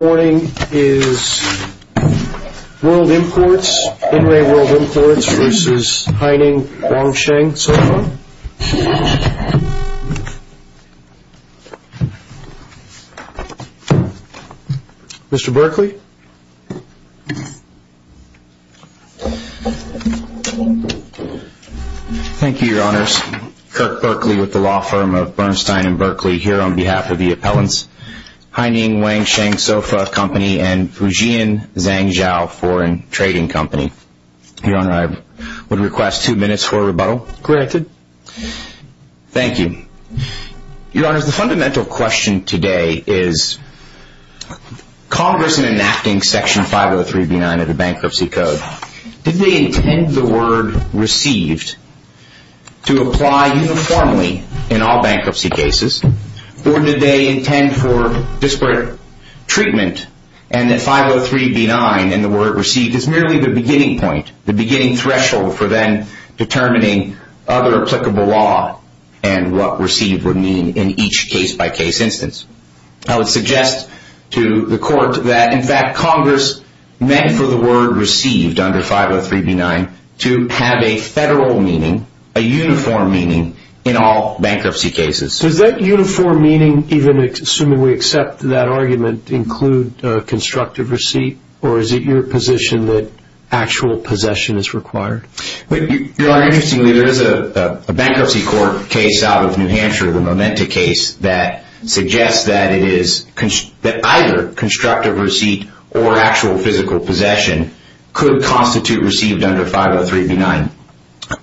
This morning is World Imports, In Re World Imports versus Haining Wangsheng Sofa. Mr. Berkley. Thank you, Your Honors. Kirk Berkley with the law firm of Bernstein and Berkley here on behalf of the appellants. Haining Wangsheng Sofa Company and Fujian Zhangzhou Foreign Trading Company. Your Honor, I would request two minutes for a rebuttal. Granted. Thank you. Your Honors, the fundamental question today is Congress in enacting Section 503B9 of the Bankruptcy Code, did they intend the word received to apply uniformly in all bankruptcy cases or did they intend for disparate treatment and that 503B9 and the word received is merely the beginning point, the beginning threshold for then determining other applicable law and what received would mean in each case-by-case instance. I would suggest to the Court that in fact Congress meant for the word received under 503B9 to have a federal meaning, a uniform meaning in all bankruptcy cases. Does that uniform meaning, even assuming we accept that argument, include constructive receipt or is it your position that actual possession is required? Your Honor, interestingly, there is a bankruptcy court case out of New Hampshire, the Momenta case, that suggests that either constructive receipt or actual physical possession could constitute received under 503B9.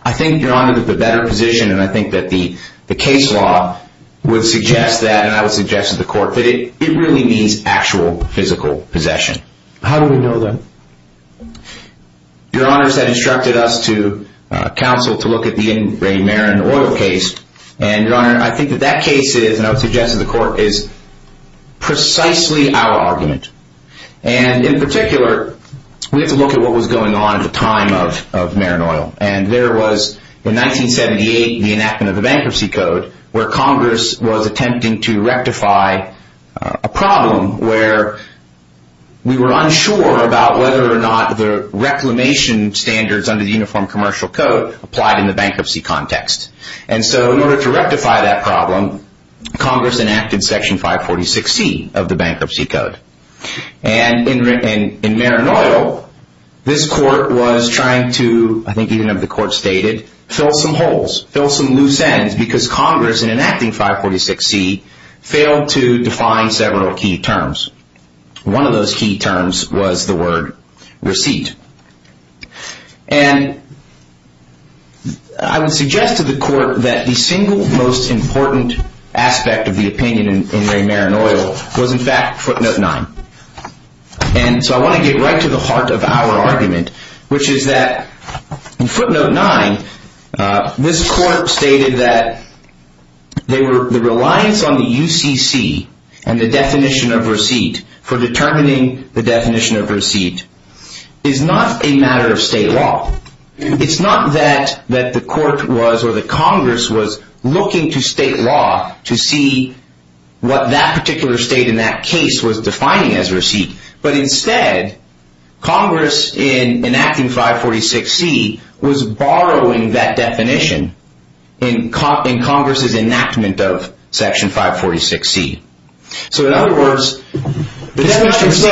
I think, Your Honor, that the better position and I think that the case law would suggest that and I would suggest to the Court that it really means actual physical possession. How do we know that? Your Honors, that instructed us to counsel to look at the Marin Oil case and, Your Honor, I think that that case is, and I would suggest to the Court, is precisely our argument. And in particular, we have to look at what was going on at the time of Marin Oil and there was, in 1978, the enactment of the Bankruptcy Code where Congress was attempting to rectify a problem where we were unsure about whether or not the reclamation standards under the Uniform Commercial Code applied in the bankruptcy context. And so in order to rectify that problem, Congress enacted Section 546C of the Bankruptcy Code. And in Marin Oil, this Court was trying to, I think even if the Court stated, fill some holes, fill some loose ends because Congress, in enacting 546C, failed to define several key terms. One of those key terms was the word receipt. And I would suggest to the Court that the single most important aspect of the opinion in Marin Oil was, in fact, footnote 9. And so I want to get right to the heart of our argument, which is that in footnote 9, this Court stated that the reliance on the UCC and the definition of receipt for determining the definition of receipt is not a matter of state law. It's not that the Court was or that Congress was looking to state law to see what that particular state in that case was defining as receipt. But instead, Congress, in enacting 546C, was borrowing that definition in Congress's enactment of Section 546C. So in other words, the definition of receipt...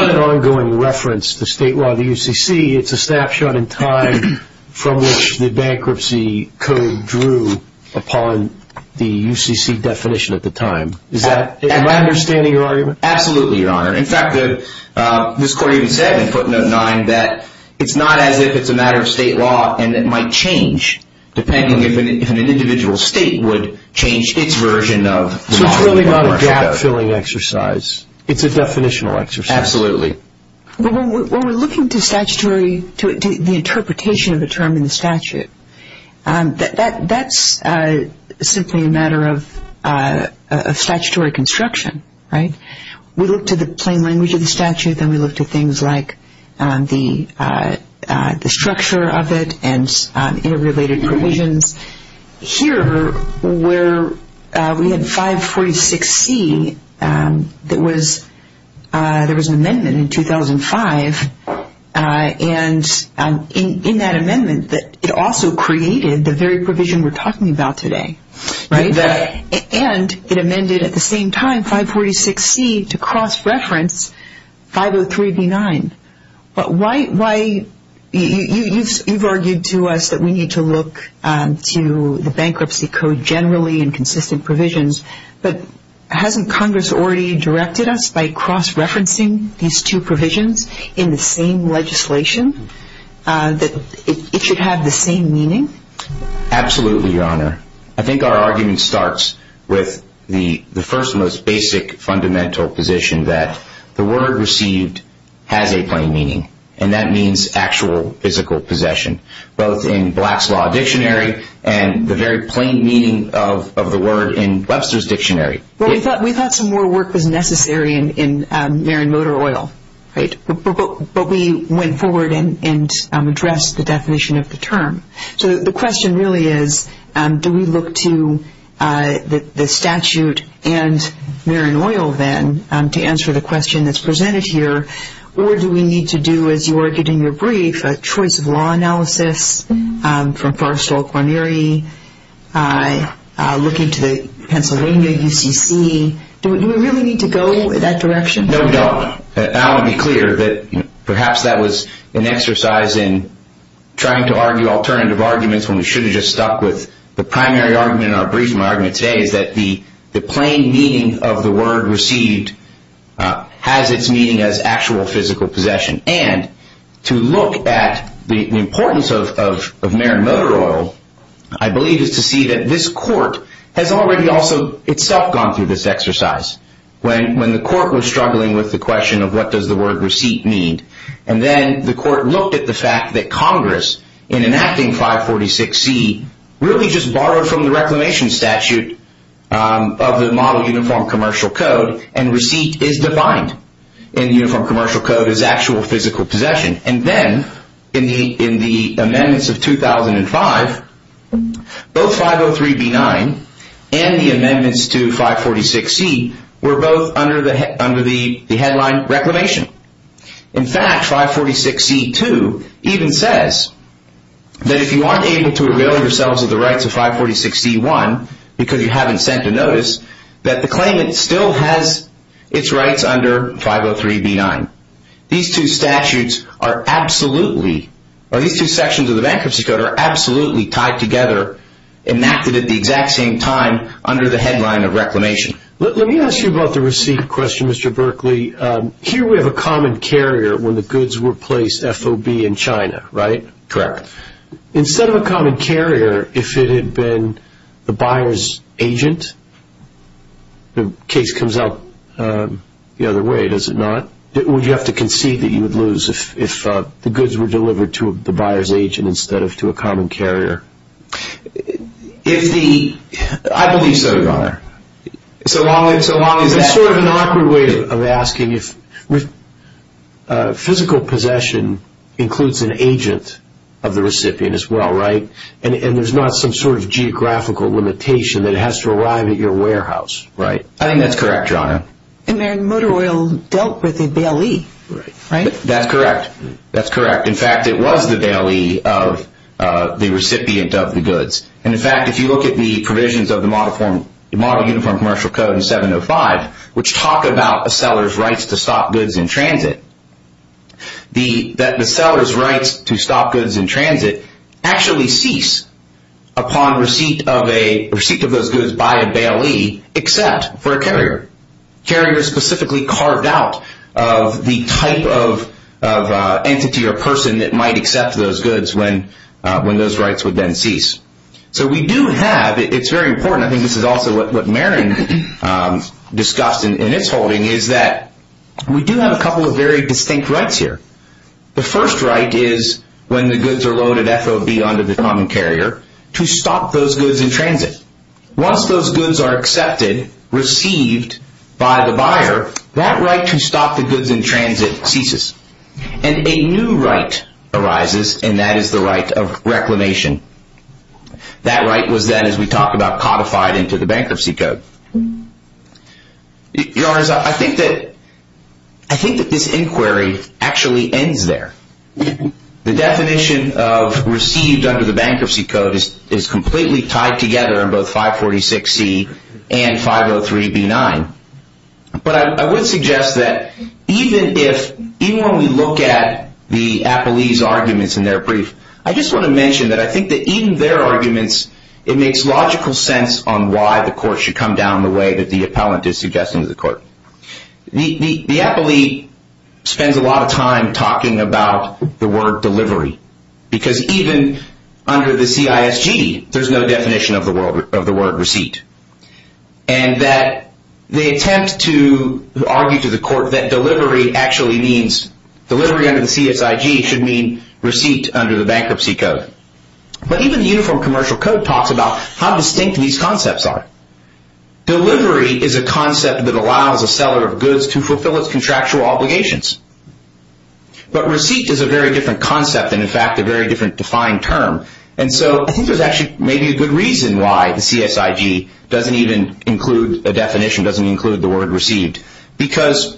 from which the bankruptcy code drew upon the UCC definition at the time. Am I understanding your argument? Absolutely, Your Honor. In fact, this Court even said in footnote 9 that it's not as if it's a matter of state law and it might change depending if an individual state would change its version of... So it's really not a gap-filling exercise. It's a definitional exercise. Absolutely. When we're looking to the interpretation of a term in the statute, that's simply a matter of statutory construction, right? We look to the plain language of the statute, then we look to things like the structure of it and interrelated provisions. Here, where we had 546C, there was an amendment in 2005. And in that amendment, it also created the very provision we're talking about today. Right. And it amended at the same time 546C to cross-reference 503B9. You've argued to us that we need to look to the bankruptcy code generally and consistent provisions, but hasn't Congress already directed us by cross-referencing these two provisions in the same legislation that it should have the same meaning? Absolutely, Your Honor. I think our argument starts with the first and most basic fundamental position that the word received has a plain meaning, and that means actual physical possession, both in Black's Law Dictionary and the very plain meaning of the word in Webster's Dictionary. Well, we thought some more work was necessary in Marin Motor Oil, right? But we went forward and addressed the definition of the term. So the question really is, do we look to the statute and Marin Oil, then, to answer the question that's presented here, or do we need to do, as you argued in your brief, a choice of law analysis from Forrestal, Guarneri, looking to the Pennsylvania UCC? Do we really need to go in that direction? No, we don't. I want to be clear that perhaps that was an exercise in trying to argue alternative arguments when we should have just stuck with the primary argument in our brief. My argument today is that the plain meaning of the word received has its meaning as actual physical possession. And to look at the importance of Marin Motor Oil, I believe it's to see that this Court has already also itself gone through this exercise. When the Court was struggling with the question of what does the word receipt mean, and then the Court looked at the fact that Congress, in enacting 546C, really just borrowed from the reclamation statute of the Model Uniform Commercial Code, and receipt is defined in the Uniform Commercial Code as actual physical possession. And then, in the amendments of 2005, both 503B9 and the amendments to 546C were both under the headline reclamation. In fact, 546C2 even says that if you aren't able to avail yourselves of the rights of 546C1, because you haven't sent a notice, that the claimant still has its rights under 503B9. These two statutes are absolutely, or these two sections of the bankruptcy code are absolutely tied together, enacted at the exact same time, under the headline of reclamation. Let me ask you about the receipt question, Mr. Berkeley. Here we have a common carrier when the goods were placed FOB in China, right? Correct. Instead of a common carrier, if it had been the buyer's agent, the case comes out the other way, does it not? Would you have to concede that you would lose if the goods were delivered to the buyer's agent instead of to a common carrier? If the... I believe so, Your Honor. So long as that... It's sort of an awkward way of asking if... Physical possession includes an agent of the recipient as well, right? And there's not some sort of geographical limitation that has to arrive at your warehouse, right? I think that's correct, Your Honor. And then motor oil dealt with a BLE, right? That's correct. That's correct. In fact, it was the BLE of the recipient of the goods. And in fact, if you look at the provisions of the Model Uniform Commercial Code in 705, which talk about a seller's rights to stop goods in transit, that the seller's rights to stop goods in transit actually cease upon receipt of those goods by a BLE, except for a carrier. Carriers specifically carved out of the type of entity or person that might accept those goods when those rights would then cease. So we do have... It's very important. I think this is also what Marin discussed in its holding, is that we do have a couple of very distinct rights here. The first right is when the goods are loaded FOB onto the common carrier to stop those goods in transit. Once those goods are accepted, received by the buyer, that right to stop the goods in transit ceases. And a new right arises, and that is the right of reclamation. That right was then, as we talked about, codified into the Bankruptcy Code. Your Honor, I think that this inquiry actually ends there. The definition of received under the Bankruptcy Code is completely tied together in both 546C and 503B9. But I would suggest that even if... I just want to mention that I think that even their arguments, it makes logical sense on why the court should come down the way that the appellant is suggesting to the court. The appellee spends a lot of time talking about the word delivery, because even under the CISG, there's no definition of the word receipt. And that they attempt to argue to the court that delivery actually means... receipt under the Bankruptcy Code. But even the Uniform Commercial Code talks about how distinct these concepts are. Delivery is a concept that allows a seller of goods to fulfill its contractual obligations. But receipt is a very different concept, and in fact, a very different defined term. And so I think there's actually maybe a good reason why the CISG doesn't even include a definition, doesn't include the word received. Because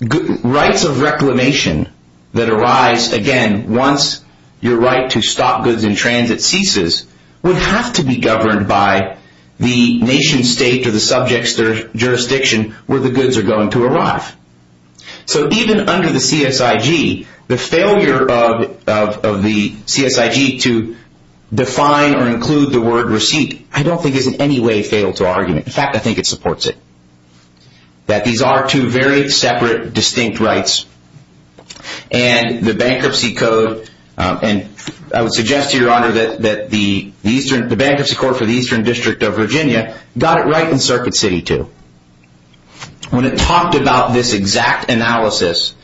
rights of reclamation that arise, again, once your right to stop goods in transit ceases, would have to be governed by the nation state or the subject's jurisdiction where the goods are going to arrive. So even under the CISG, the failure of the CISG to define or include the word receipt, I don't think is in any way fatal to argument. In fact, I think it supports it. That these are two very separate, distinct rights. And the Bankruptcy Code, and I would suggest to your honor that the Bankruptcy Court for the Eastern District of Virginia got it right in Circuit City too. When it talked about this exact analysis,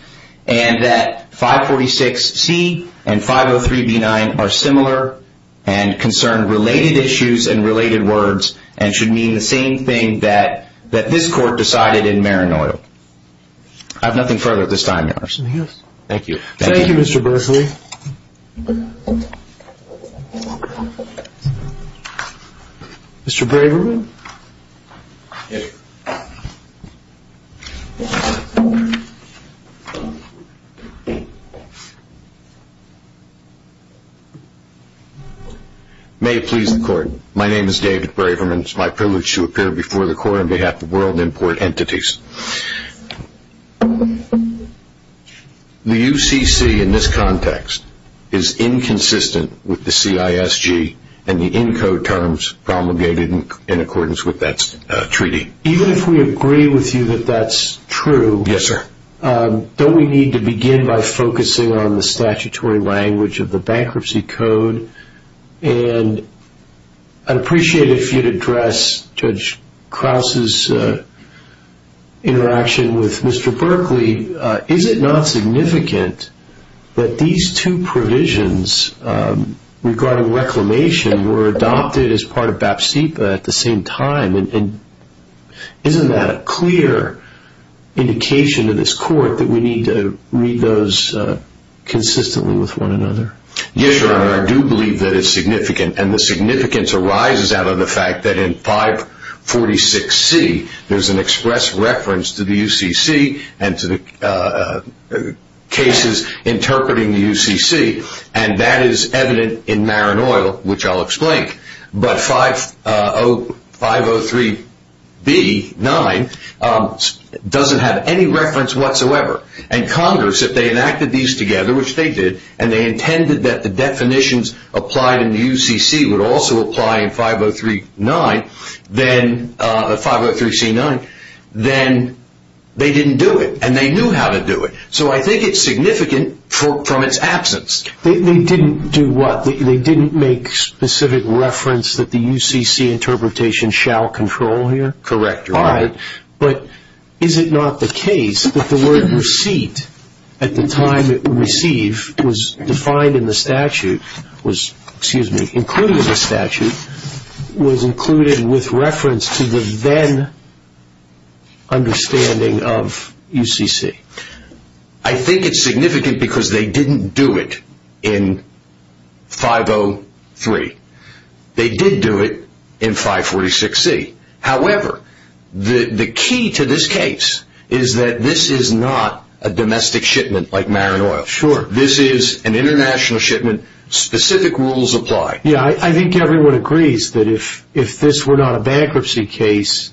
and that 546C and 503B9 are similar, and concern related issues and related words, and should mean the same thing that this court decided in Maranoi. I have nothing further at this time, your honor. Thank you. Thank you, Mr. Berkley. Mr. Braverman? Yes, sir. May it please the court. My name is David Braverman. It's my privilege to appear before the court on behalf of World Import Entities. The UCC in this context is inconsistent with the CISG and the ENCODE terms promulgated in accordance with that treaty. Even if we agree with you that that's true. Yes, sir. Don't we need to begin by focusing on the statutory language of the Bankruptcy Code? And I'd appreciate it if you'd address Judge Krause's interaction with Mr. Berkley. Is it not significant that these two provisions regarding reclamation were adopted as part of BAPSIPA at the same time? And isn't that a clear indication to this court that we need to read those consistently with one another? Yes, your honor. I do believe that it's significant. And the significance arises out of the fact that in 546C there's an express reference to the UCC and to the cases interpreting the UCC. And that is evident in Marin Oil, which I'll explain. But 503B-9 doesn't have any reference whatsoever. And Congress, if they enacted these together, which they did, and they intended that the definitions applied in the UCC would also apply in 503C-9, then they didn't do it. And they knew how to do it. So I think it's significant from its absence. They didn't do what? They didn't make specific reference that the UCC interpretation shall control here? Correct, your honor. But is it not the case that the word receipt at the time it would receive was defined in the statute, was included in the statute, was included with reference to the then understanding of UCC? I think it's significant because they didn't do it in 503. They did do it in 546C. However, the key to this case is that this is not a domestic shipment like Marin Oil. Sure. This is an international shipment. Specific rules apply. Yeah, I think everyone agrees that if this were not a bankruptcy case,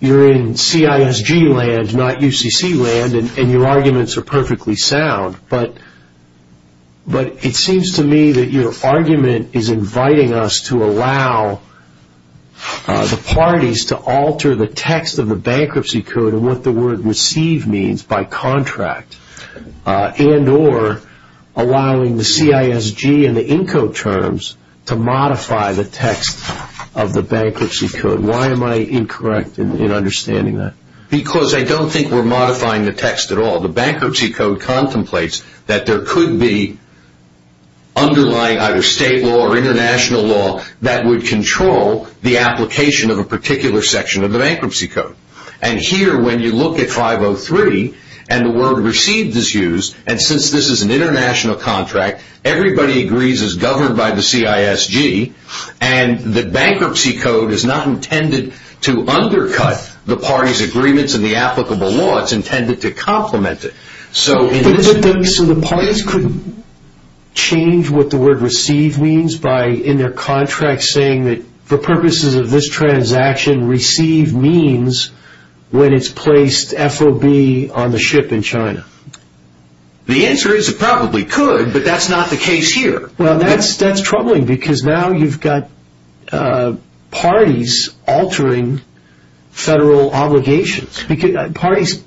you're in CISG land, not UCC land, and your arguments are perfectly sound. But it seems to me that your argument is inviting us to allow the parties to alter the text of the bankruptcy code and what the word receive means by contract and or allowing the CISG and the INCO terms to modify the text of the bankruptcy code. Why am I incorrect in understanding that? Because I don't think we're modifying the text at all. The bankruptcy code contemplates that there could be underlying either state law or international law that would control the application of a particular section of the bankruptcy code. And here, when you look at 503 and the word received is used, and since this is an international contract, everybody agrees it's governed by the CISG, and the bankruptcy code is not intended to undercut the parties' agreements in the applicable law. It's intended to complement it. So the parties could change what the word receive means by, in their contract, saying that for purposes of this transaction, receive means when it's placed FOB on the ship in China. The answer is it probably could, but that's not the case here. Well, that's troubling because now you've got parties altering federal obligations. Because parties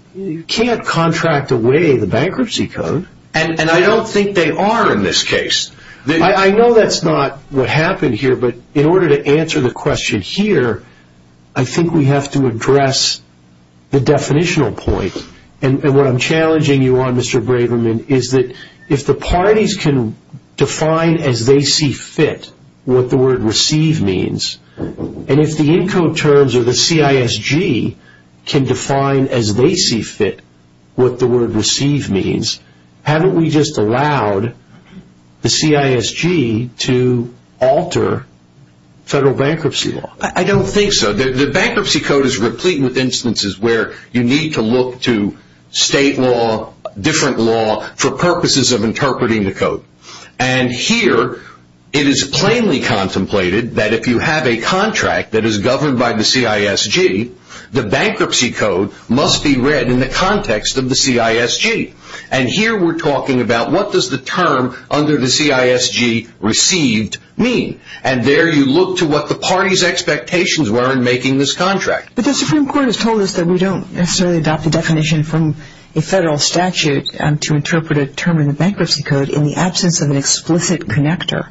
can't contract away the bankruptcy code. And I don't think they are in this case. I know that's not what happened here, but in order to answer the question here, I think we have to address the definitional point, and what I'm challenging you on, Mr. Braverman, is that if the parties can define as they see fit what the word receive means, and if the ENCODE terms or the CISG can define as they see fit what the word receive means, haven't we just allowed the CISG to alter federal bankruptcy law? I don't think so. The bankruptcy code is replete with instances where you need to look to state law, and here it is plainly contemplated that if you have a contract that is governed by the CISG, the bankruptcy code must be read in the context of the CISG. And here we're talking about what does the term under the CISG received mean. And there you look to what the party's expectations were in making this contract. But the Supreme Court has told us that we don't necessarily adopt the definition from a federal statute to interpret a term in the bankruptcy code in the absence of an explicit connector.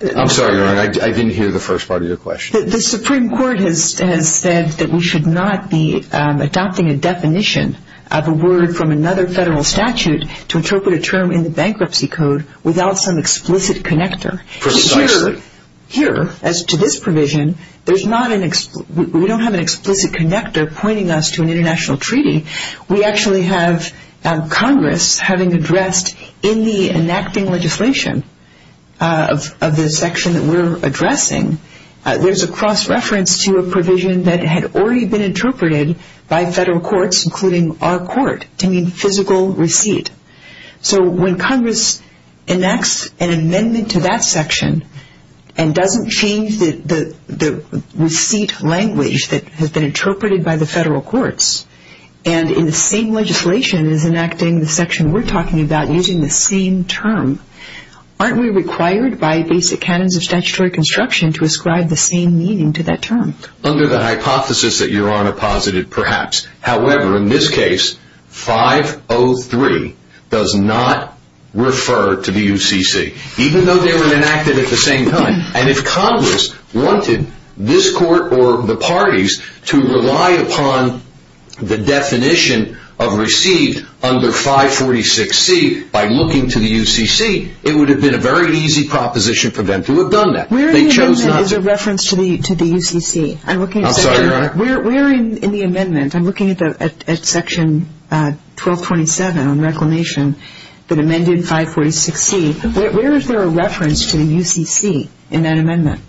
I'm sorry, Your Honor. I didn't hear the first part of your question. The Supreme Court has said that we should not be adopting a definition of a word from another federal statute to interpret a term in the bankruptcy code without some explicit connector. Precisely. Here, as to this provision, we don't have an explicit connector pointing us to an international treaty. We actually have Congress having addressed in the enacting legislation of the section that we're addressing, there's a cross-reference to a provision that had already been interpreted by federal courts, including our court, to mean physical receipt. So when Congress enacts an amendment to that section and doesn't change the receipt language that has been interpreted by the federal courts, and in the same legislation is enacting the section we're talking about using the same term, aren't we required by basic canons of statutory construction to ascribe the same meaning to that term? Under the hypothesis that Your Honor posited, perhaps. However, in this case, 503 does not refer to the UCC. Even though they were enacted at the same time. And if Congress wanted this court or the parties to rely upon the definition of received under 546C by looking to the UCC, it would have been a very easy proposition for them to have done that. Where in the amendment is a reference to the UCC? I'm sorry, Your Honor? Where in the amendment, I'm looking at section 1227 on reclamation that amended 546C. Where is there a reference to the UCC in that amendment?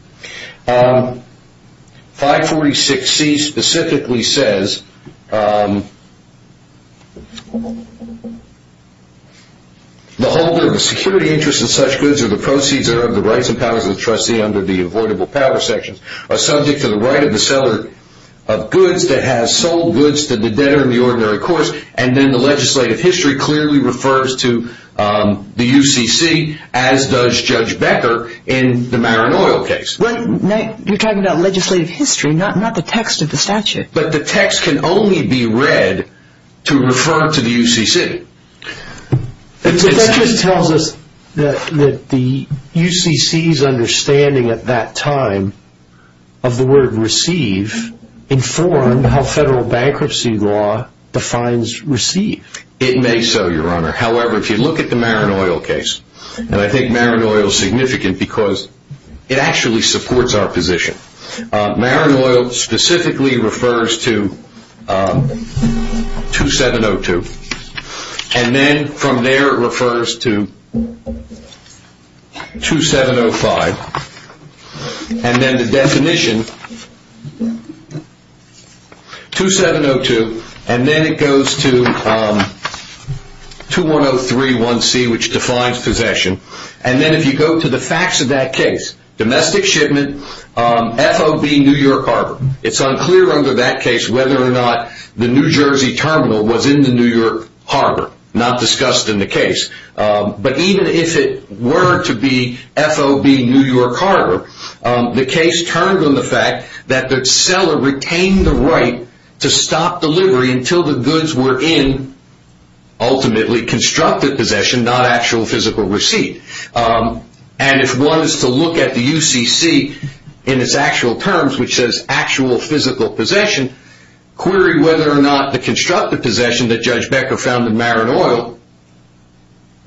546C specifically says, the holder of the security interest in such goods or the proceeds are of the rights and powers of the trustee under the avoidable power section are subject to the right of the seller of goods that has sold goods to the debtor in the ordinary course. And then the legislative history clearly refers to the UCC as does Judge Becker in the Marinoil case. You're talking about legislative history, not the text of the statute. But the text can only be read to refer to the UCC. But that just tells us that the UCC's understanding at that time of the word receive informed how federal bankruptcy law defines receive. It may so, Your Honor. However, if you look at the Marinoil case, and I think Marinoil is significant because it actually supports our position. Marinoil specifically refers to 2702. And then from there it refers to 2705. And then the definition, 2702. And then it goes to 21031C, which defines possession. And then if you go to the facts of that case, domestic shipment, FOB New York Harbor. It's unclear under that case whether or not the New Jersey terminal was in the New York Harbor. Not discussed in the case. But even if it were to be FOB New York Harbor, the case turned on the fact that the seller retained the right to stop delivery until the goods were in ultimately constructed possession, not actual physical receipt. And if one is to look at the UCC in its actual terms, which says actual physical possession, query whether or not the constructed possession that Judge Becker found in Marinoil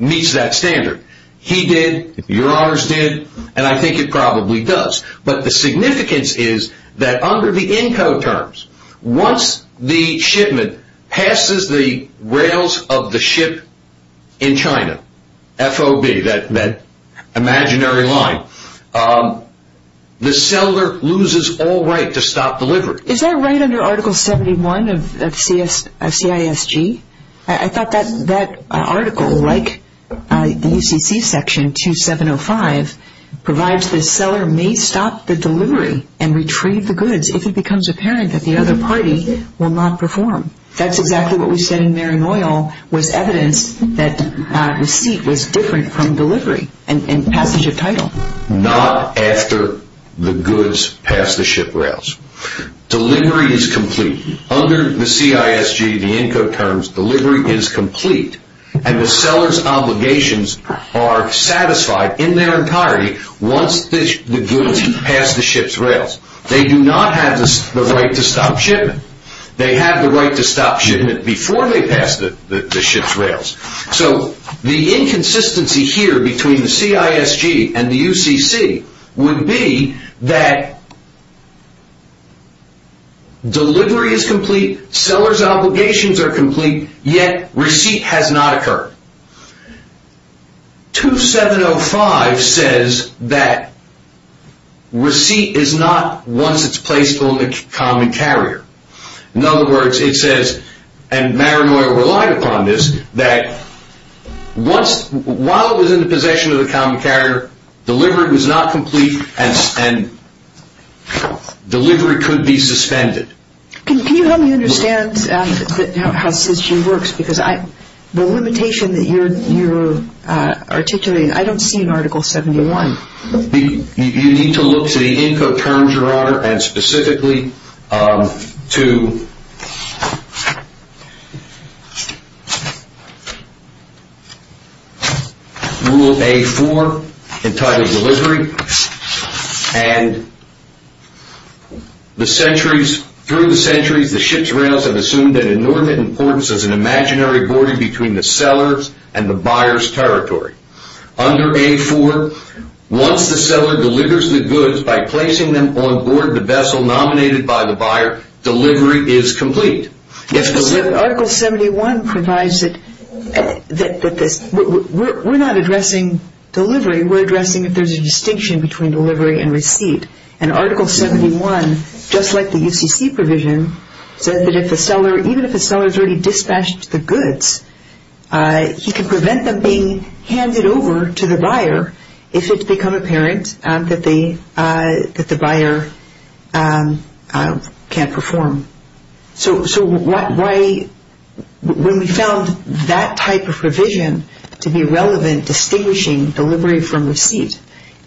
meets that standard. He did. Your Honors did. And I think it probably does. But the significance is that under the ENCO terms, once the shipment passes the rails of the ship in China, FOB, that imaginary line, the seller loses all right to stop delivery. Is that right under Article 71 of CISG? I thought that article, like the UCC section 2705, provides the seller may stop the delivery and retrieve the goods if it becomes apparent that the other party will not perform. That's exactly what we said in Marinoil was evidence that receipt was different from delivery and passage of title. Not after the goods pass the ship rails. Delivery is complete. Under the CISG, the ENCO terms, delivery is complete. And the seller's obligations are satisfied in their entirety once the goods pass the ship's rails. They do not have the right to stop shipment. They have the right to stop shipment before they pass the ship's rails. So the inconsistency here between the CISG and the UCC would be that delivery is complete, seller's obligations are complete, yet receipt has not occurred. 2705 says that receipt is not once it's placed on the common carrier. In other words, it says, and Marinoil relied upon this, that while it was in the possession of the common carrier, delivery was not complete and delivery could be suspended. Can you help me understand how CISG works? Because the limitation that you're articulating, I don't see in Article 71. You need to look to the ENCO terms, Your Honor, and specifically to Rule A-4 entitled delivery. And through the centuries, the ship's rails have assumed an inordinate importance as an imaginary border between the seller's and the buyer's territory. Under A-4, once the seller delivers the goods by placing them on board the vessel nominated by the buyer, delivery is complete. Article 71 provides that we're not addressing delivery. We're addressing if there's a distinction between delivery and receipt. And Article 71, just like the UCC provision, says that even if the seller's already dispatched the goods, he can prevent them being handed over to the buyer if it's become apparent that the buyer can't perform. So when we found that type of provision to be relevant distinguishing delivery from receipt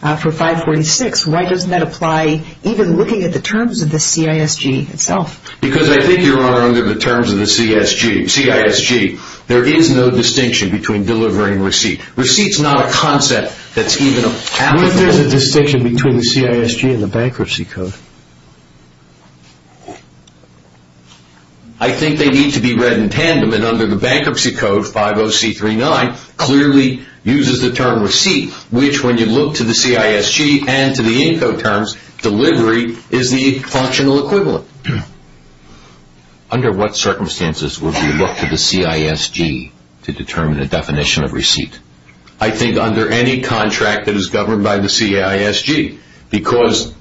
for 546, why doesn't that apply even looking at the terms of the CISG itself? Because I think, Your Honor, under the terms of the CISG, there is no distinction between delivery and receipt. Receipt's not a concept that's even applicable. What if there's a distinction between the CISG and the Bankruptcy Code? I think they need to be read in tandem. And under the Bankruptcy Code, 50C39 clearly uses the term receipt, which when you look to the CISG and to the INCO terms, delivery is the functional equivalent. Under what circumstances would we look to the CISG to determine a definition of receipt? I think under any contract that is governed by the CISG, because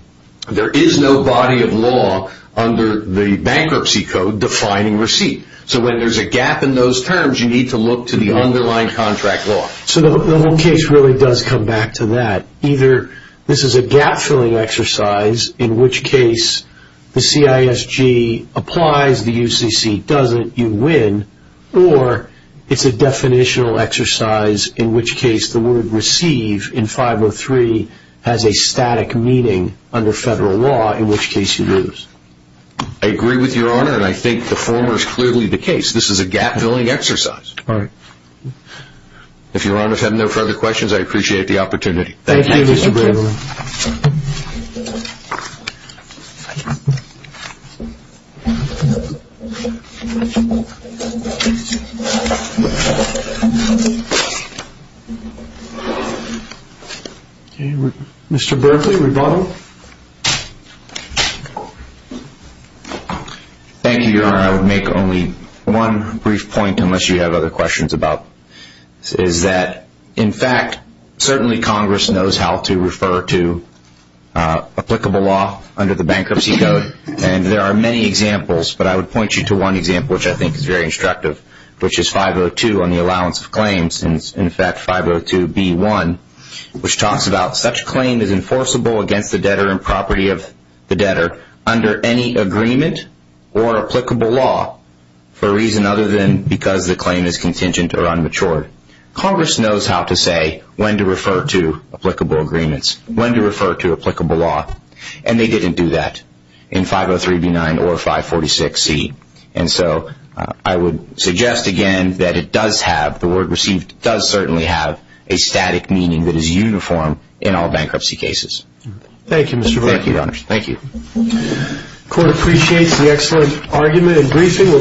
there is no body of law under the Bankruptcy Code defining receipt. So when there's a gap in those terms, you need to look to the underlying contract law. So the whole case really does come back to that. Either this is a gap-filling exercise, in which case the CISG applies, the UCC doesn't, you win, or it's a definitional exercise in which case the word receive in 503 has a static meaning under federal law, in which case you lose. I agree with you, Your Honor, and I think the former is clearly the case. This is a gap-filling exercise. All right. If Your Honor has no further questions, I appreciate the opportunity. Thank you, Mr. Berkley. Thank you, Your Honor. I would make only one brief point, unless you have other questions about this, is that in fact certainly Congress knows how to refer to applicable law under the Bankruptcy Code, and there are many examples, but I would point you to one example, which I think is very instructive, in fact, 502b1, which talks about such claim is enforceable against the debtor and property of the debtor under any agreement or applicable law for a reason other than because the claim is contingent or unmatured. Congress knows how to say when to refer to applicable agreements, when to refer to applicable law, and they didn't do that in 503b9 or 546c. And so I would suggest again that it does have, the word received, does certainly have a static meaning that is uniform in all bankruptcy cases. Thank you, Mr. Berkley. Thank you, Your Honor. Thank you. The Court appreciates the excellent argument and briefing.